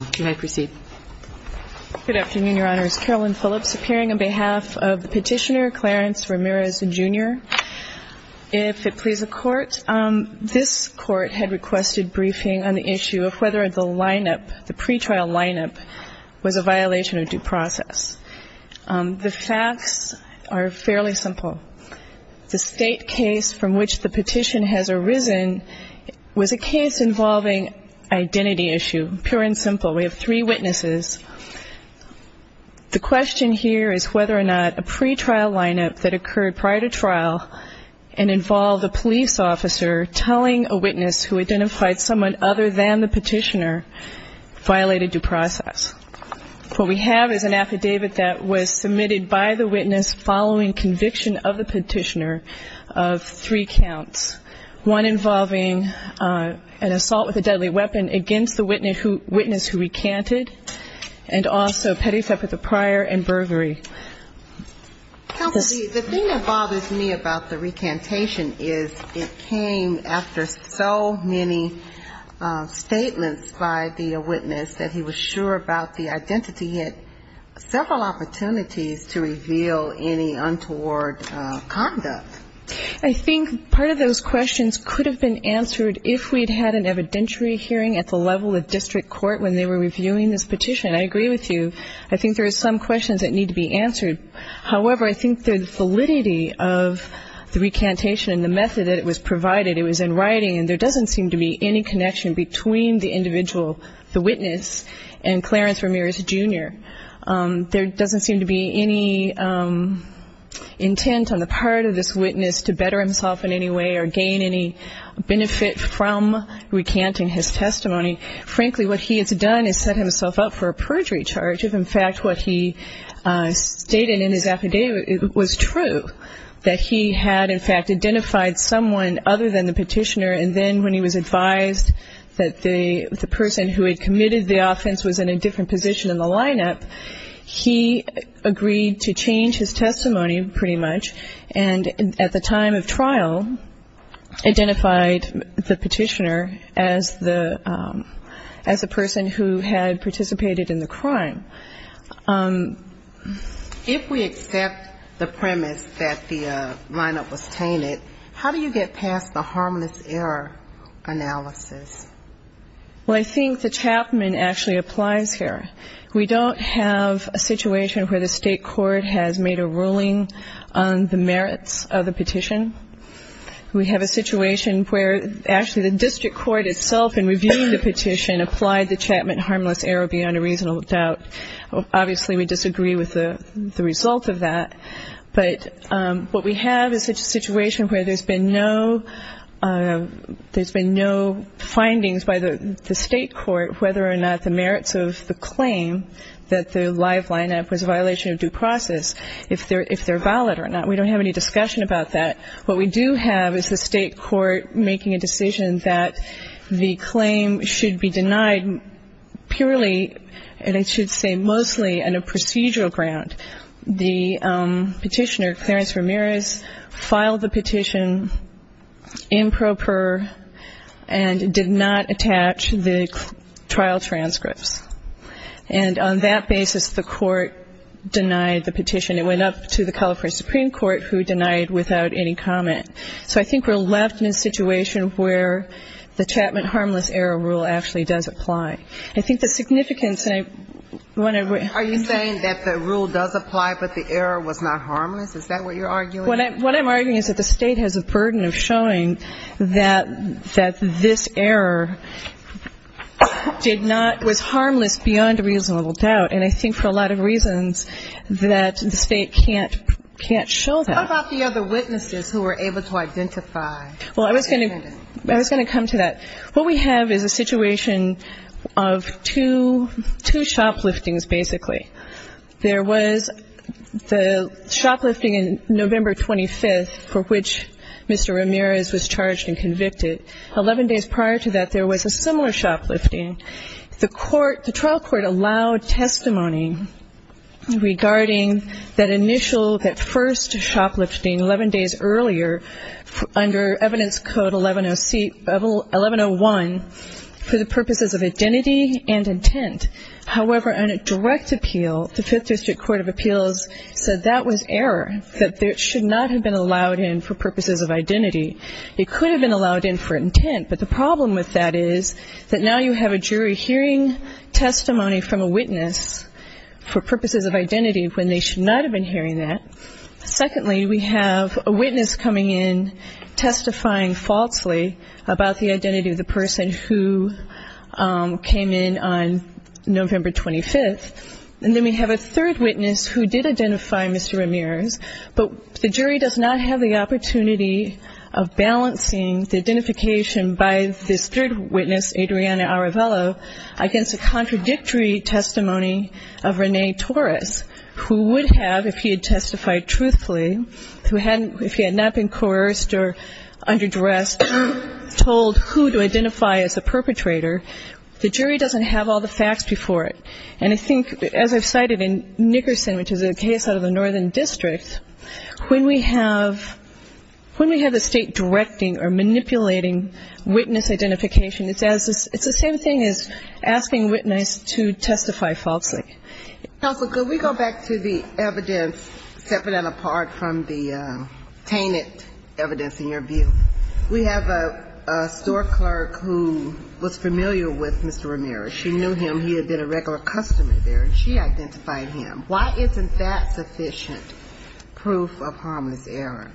Good afternoon, Your Honors. Carolyn Phillips appearing on behalf of the petitioner, Clarence Ramirez, Jr. If it please the Court, this Court had requested briefing on the issue of whether the lineup, the pretrial lineup, was a violation of due process. The facts are fairly simple. The state case from which the petition has arisen was a case involving identity issue, pure and simple. We have three witnesses. The question here is whether or not a pretrial lineup that occurred prior to trial and involved a police officer telling a witness who identified someone other than the petitioner violated due process. What we have is an affidavit that was submitted by the witness following conviction of the petitioner of three counts, one involving an assault with a deadly weapon against the witness who recanted, and also petty theft with a prior and burglary. The thing that bothers me about the recantation is it came after so many statements by the witness that he was sure about the identity. He had several opportunities to reveal any untoward conduct. I think part of those questions could have been answered if we had had an evidentiary hearing at the level of district court when they were reviewing this petition. I agree with you. I think there are some questions that need to be answered. However, I think the validity of the recantation and the method that it was provided, it was in writing, and there doesn't seem to be any connection between the individual, the witness, and Clarence Ramirez, Jr. There doesn't seem to be any intent on the part of this witness to better himself in any way or gain any benefit from recanting his testimony. Frankly, what he has done is set himself up for a perjury charge if, in fact, what he stated in his affidavit was true, that he had, in fact, identified someone other than the petitioner, and then when he was advised that the person who had committed the offense was in a different position in the lineup, he agreed to change his testimony pretty much, and at the time of trial identified the petitioner as the person who had participated in the crime. If we accept the premise that the lineup was tainted, how do you get past the harmless error analysis? Well, I think the Chapman actually applies here. We don't have a situation where the state court has made a ruling on the merits of the petition. We have a situation where actually the district court itself, in reviewing the petition, applied the Chapman harmless error beyond a reasonable doubt. Obviously, we disagree with the result of that, but what we have is a situation where there's been no findings by the state court whether or not the merits of the claim that the live lineup was a violation of due process, if they're valid or not. We don't have any discussion about that. What we do have is the state court making a decision that the claim should be denied purely, and I should say mostly on a procedural ground. The petitioner, Clarence Ramirez, filed the petition improper and did not attach the trial transcripts, and on that basis the court denied the petition. It went up to the California Supreme Court, who denied without any comment. So I think we're left in a situation where the Chapman harmless error rule actually does apply. I think the significance, and I want to ---- Are you saying that the rule does apply, but the error was not harmless? Is that what you're arguing? What I'm arguing is that the state has a burden of showing that this error did not ---- was harmless beyond a reasonable doubt, and I think for a lot of reasons that the state can't show that. What about the other witnesses who were able to identify the defendant? Well, I was going to come to that. What we have is a situation of two shopliftings, basically. There was the shoplifting in November 25th for which Mr. Ramirez was charged and convicted. Eleven days prior to that, there was a similar shoplifting. The trial court allowed testimony regarding that initial, that first shoplifting, 11 days earlier, under Evidence Code 1101, for the purposes of identity and intent. However, on a direct appeal, the Fifth District Court of Appeals said that was error, that it should not have been allowed in for purposes of identity. It could have been allowed in for intent, but the problem with that is that now you have a jury hearing testimony from a witness for purposes of identity when they should not have been hearing that. Secondly, we have a witness coming in testifying falsely about the identity of the person who came in on November 25th. And then we have a third witness who did identify Mr. Ramirez, but the jury does not have the opportunity of balancing the identification by this third witness, Adriana Arevalo, against a contradictory testimony of Renee Torres, who would have, if he had testified truthfully, if he had not been coerced or under duress, told who to identify as the perpetrator. The jury doesn't have all the facts before it. And I think, as I've cited, in Nickerson, which is a case out of the Northern District, when we have the State directing or manipulating witness identification, it's the same thing as asking a witness to testify falsely. Counsel, could we go back to the evidence separate and apart from the tainted evidence in your view? We have a store clerk who was familiar with Mr. Ramirez. She knew him. He had been a regular customer there, and she identified him. Why isn't that sufficient proof of harmless error?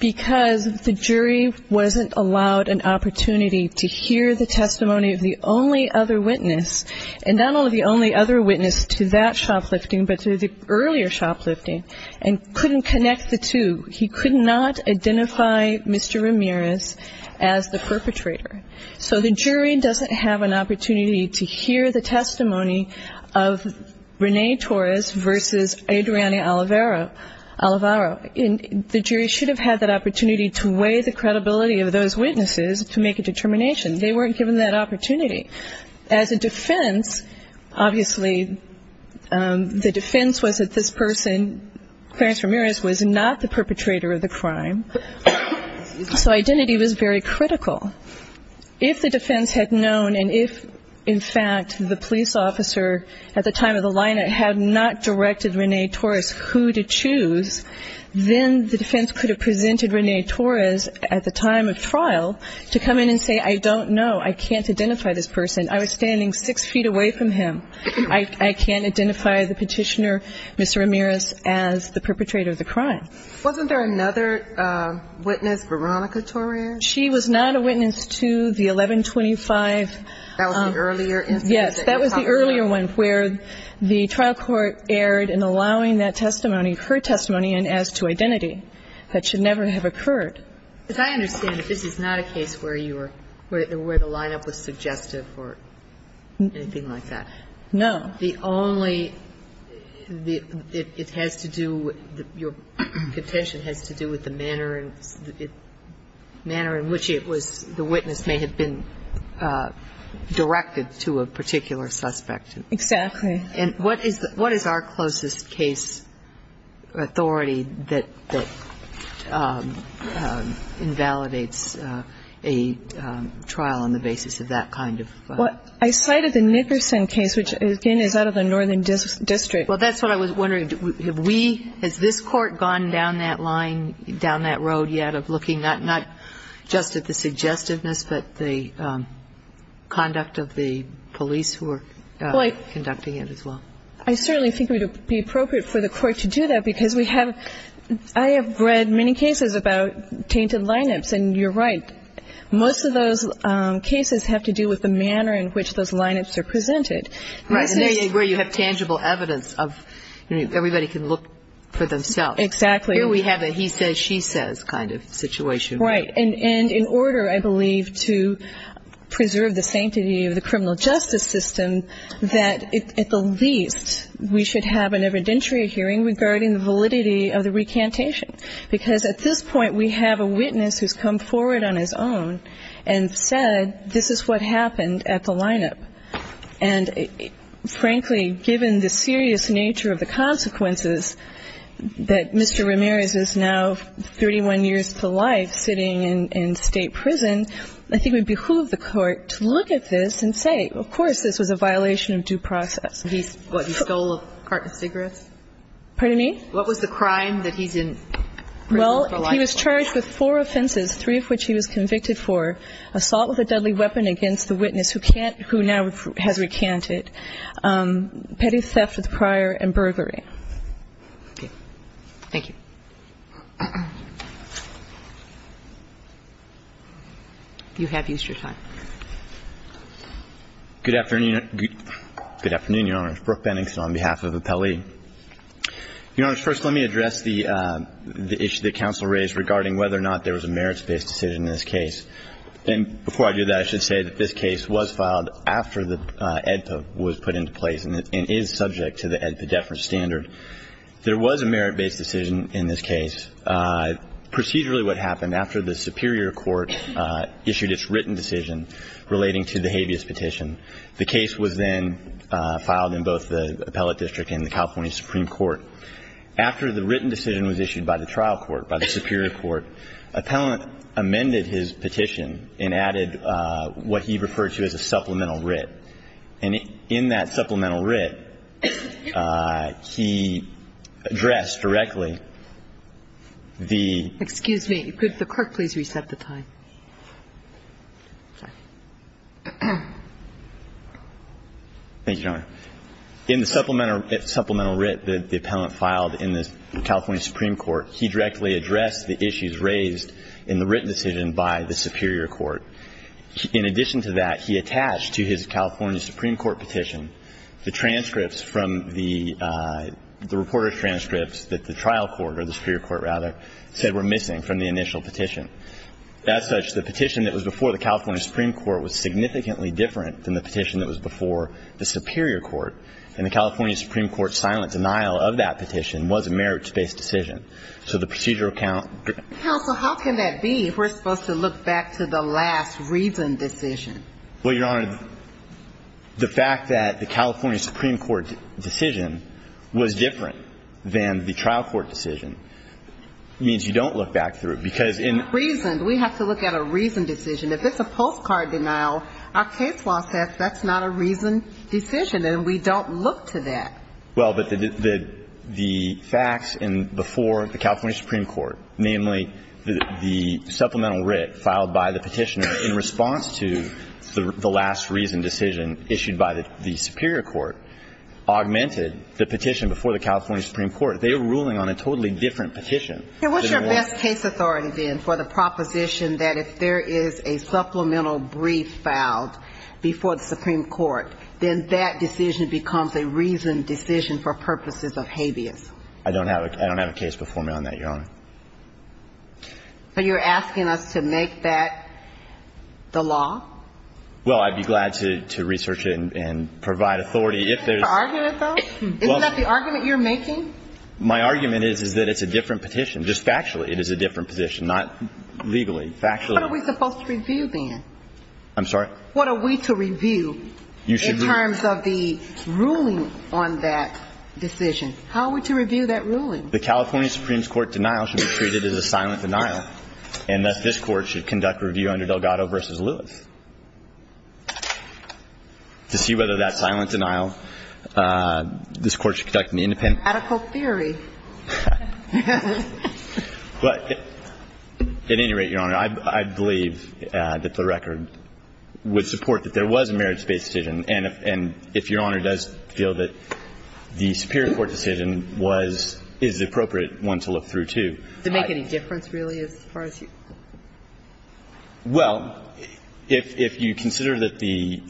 Because the jury wasn't allowed an opportunity to hear the testimony of the only other witness, and not only the only other witness to that shoplifting, but to the earlier shoplifting, and couldn't connect the two. He could not identify Mr. Ramirez as the perpetrator. So the jury doesn't have an opportunity to hear the testimony of Renee Torres versus Adriana Alvaro. The jury should have had that opportunity to weigh the credibility of those witnesses to make a determination. They weren't given that opportunity. As a defense, obviously, the defense was that this person, Clarence Ramirez, was not the perpetrator of the crime. So identity was very critical. If the defense had known, and if, in fact, the police officer at the time of the line-out had not directed Renee Torres who to choose, then the defense could have presented Renee Torres at the time of trial to come in and say, I don't know. I can't identify this person. I was standing six feet away from him. I can't identify the petitioner, Mr. Ramirez, as the perpetrator of the crime. Wasn't there another witness, Veronica Torres? She was not a witness to the 1125. That was the earlier instance? Yes, that was the earlier one where the trial court erred in allowing that testimony, her testimony, as to identity. That should never have occurred. Because I understand that this is not a case where you were, where the line-up was suggestive or anything like that. No. The only, it has to do, your petition has to do with the manner in which it was, the witness may have been directed to a particular suspect. Exactly. And what is our closest case authority that invalidates a trial on the basis of that kind of? Well, I cited the Nickerson case, which, again, is out of the Northern District. Well, that's what I was wondering. Have we, has this Court gone down that line, down that road yet of looking not just at the suggestiveness, but the conduct of the police who are conducting it as well? I certainly think it would be appropriate for the Court to do that because we have, I have read many cases about tainted line-ups, and you're right. Most of those cases have to do with the manner in which those line-ups are presented. Right. And where you have tangible evidence of everybody can look for themselves. Exactly. Here we have a he says, she says kind of situation. Right. And in order, I believe, to preserve the sanctity of the criminal justice system, that at the least we should have an evidentiary hearing regarding the validity of the recantation. Because at this point, we have a witness who's come forward on his own and said, this is what happened at the line-up. And, frankly, given the serious nature of the consequences that Mr. Ramirez is now 31 years to life sitting in State prison, I think it would behoove the Court to look at this and say, of course, this was a violation of due process. He stole a carton of cigarettes? Pardon me? What was the crime that he's in prison for life? Well, he was charged with four offenses, three of which he was convicted for. Assault with a deadly weapon against the witness who can't, who now has recanted. Petty theft with prior and burglary. Okay. Thank you. You have Easter time. Good afternoon, Your Honor. My name is Bruce Pennington on behalf of Appellee. Your Honor, first let me address the issue that counsel raised regarding whether or not there was a merits-based decision in this case. And before I do that, I should say that this case was filed after the AEDPA was put into place and is subject to the AEDPA deference standard. There was a merits-based decision in this case. Procedurally what happened, after the superior court issued its written decision relating to the habeas petition, the case was then filed in both the appellate district and the California Supreme Court. After the written decision was issued by the trial court, by the superior court, appellant amended his petition and added what he referred to as a supplemental writ. And in that supplemental writ, he addressed directly the ---- Excuse me. Could the clerk please reset the time? Sorry. Thank you, Your Honor. In the supplemental writ that the appellant filed in the California Supreme Court, he directly addressed the issues raised in the written decision by the superior court. In addition to that, he attached to his California Supreme Court petition the transcripts from the reporter's transcripts that the trial court, or the superior court rather, said were missing from the initial petition. As such, the petition that was before the California Supreme Court was significantly different than the petition that was before the superior court. And the California Supreme Court's silent denial of that petition was a merits-based decision. So the procedural count ---- Counsel, how can that be? We're supposed to look back to the last written decision. Well, Your Honor, the fact that the California Supreme Court decision was different than the trial court decision means you don't look back through it. Because in ---- It's not reasoned. We have to look at a reasoned decision. If it's a postcard denial, our case law says that's not a reasoned decision, and we don't look to that. Well, but the facts in before the California Supreme Court, namely the supplemental writ filed by the petitioner in response to the last reasoned decision issued by the superior court, augmented the petition before the California Supreme Court. They were ruling on a totally different petition. And what's your best case authority, then, for the proposition that if there is a supplemental brief filed before the Supreme Court, then that decision becomes a reasoned decision for purposes of habeas? I don't have a case before me on that, Your Honor. But you're asking us to make that the law? Well, I'd be glad to research it and provide authority. Is that the argument, though? Isn't that the argument you're making? My argument is, is that it's a different petition. Just factually, it is a different petition, not legally. Factually. What are we supposed to review, then? I'm sorry? What are we to review in terms of the ruling on that decision? How are we to review that ruling? The California Supreme Court denial should be treated as a silent denial, and thus this Court should conduct review under Delgado v. Lewis to see whether that silent denial is a legitimate or deliberate decision. That's the whole theory. But at any rate, Your Honor, I believe that the record would support that there was a merits-based decision. And if Your Honor does feel that the superior court decision was the appropriate one to look through, too. Does it make any difference, really, as far as you? Well, if you consider that the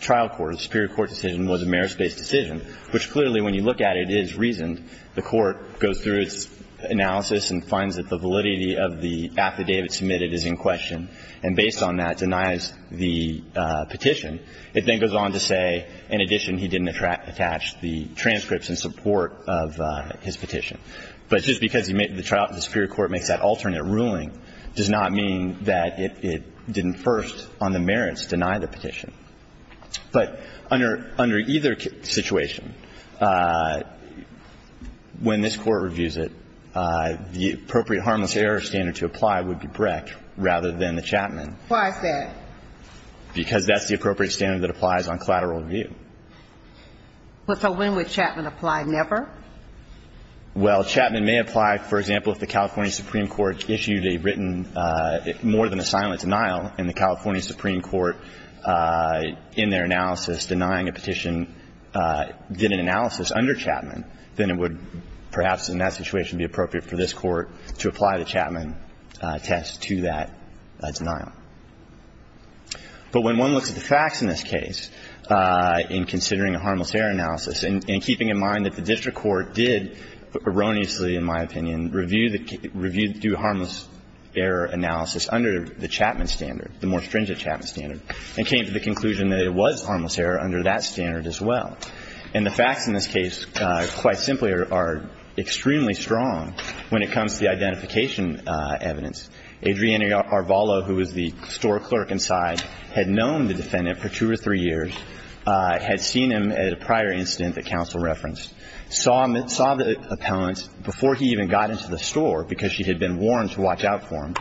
trial court, the superior court decision, was a merits-based decision, which clearly, when you look at it, is reasoned, the court goes through its analysis and finds that the validity of the affidavit submitted is in question and, based on that, denies the petition. It then goes on to say, in addition, he didn't attach the transcripts in support of his petition. But just because the superior court makes that alternate ruling does not mean that it didn't first, on the merits, deny the petition. But under either situation, when this Court reviews it, the appropriate harmless error standard to apply would be Brecht rather than the Chapman. Why is that? Because that's the appropriate standard that applies on collateral review. So when would Chapman apply? Never? Well, Chapman may apply, for example, if the California Supreme Court issued a written more than a silent denial, and the California Supreme Court, in their analysis, denying a petition, did an analysis under Chapman, then it would perhaps, in that situation, be appropriate for this Court to apply the Chapman test to that denial. But when one looks at the facts in this case, in considering a harmless error analysis and keeping in mind that the district court did erroneously, in my opinion, review the harmless error analysis under the Chapman standard, the more stringent Chapman standard, and came to the conclusion that it was harmless error under that standard as well, and the facts in this case, quite simply, are extremely strong when it comes to the identification evidence. Adriana Arvalo, who was the store clerk inside, had known the defendant for two or three years, had seen him at a prior incident that counsel referenced, saw the appellant before he even got into the store, because she had been warned to watch out for him,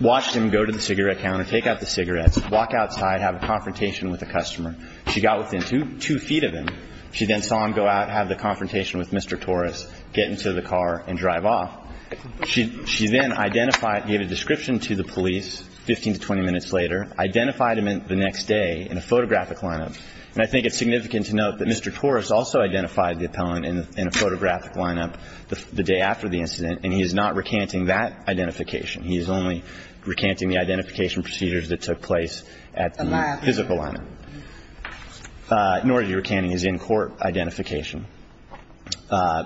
watched him go to the cigarette counter, take out the cigarettes, walk outside, have a confrontation with a customer. She got within two feet of him. She then saw him go out, have the confrontation with Mr. Torres, get into the car and drive off. She then identified, gave a description to the police 15 to 20 minutes later, identified him the next day in a photographic line-up. And I think it's significant to note that Mr. Torres also identified the appellant in a photographic line-up the day after the incident, and he is not recanting that identification. He is only recanting the identification procedures that took place at the physical line-up. Nor is he recanting his in-court identification.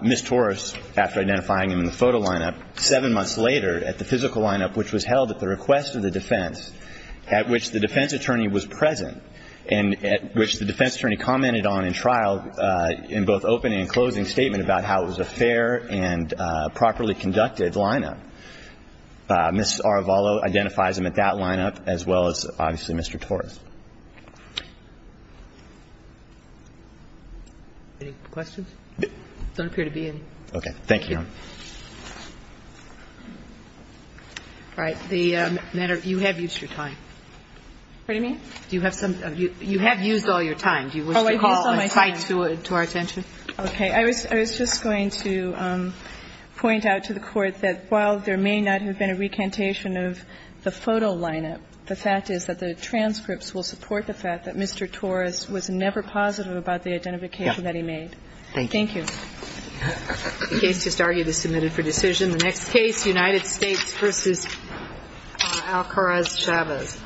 Ms. Torres, after identifying him in the photo line-up, seven months later at the physical line-up, Ms. Arvalo identifies him at that line-up as well as, obviously, Mr. Torres. Any questions? It doesn't appear to be any. Okay. Thank you, Your Honor. All right. Thank you. Thank you. Thank you. Thank you. Thank you. Thank you. Thank you. Thank you. Pardon me? Do you have some of your – you have used all your time. Do you wish to call a time to our attention? Oh, I used all my time. Okay. I was just going to point out to the Court that while there may not have been a recantation of the photo line-up, the fact is that the transcripts will support the fact that Mr. Torres was never positive about the identification that he made. Yes. Thank you. Thank you. The case just argued is submitted for decision. The next case, United States v. Alcáraz-Chavez.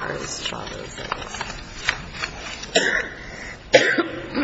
Alcáraz-Chavez. END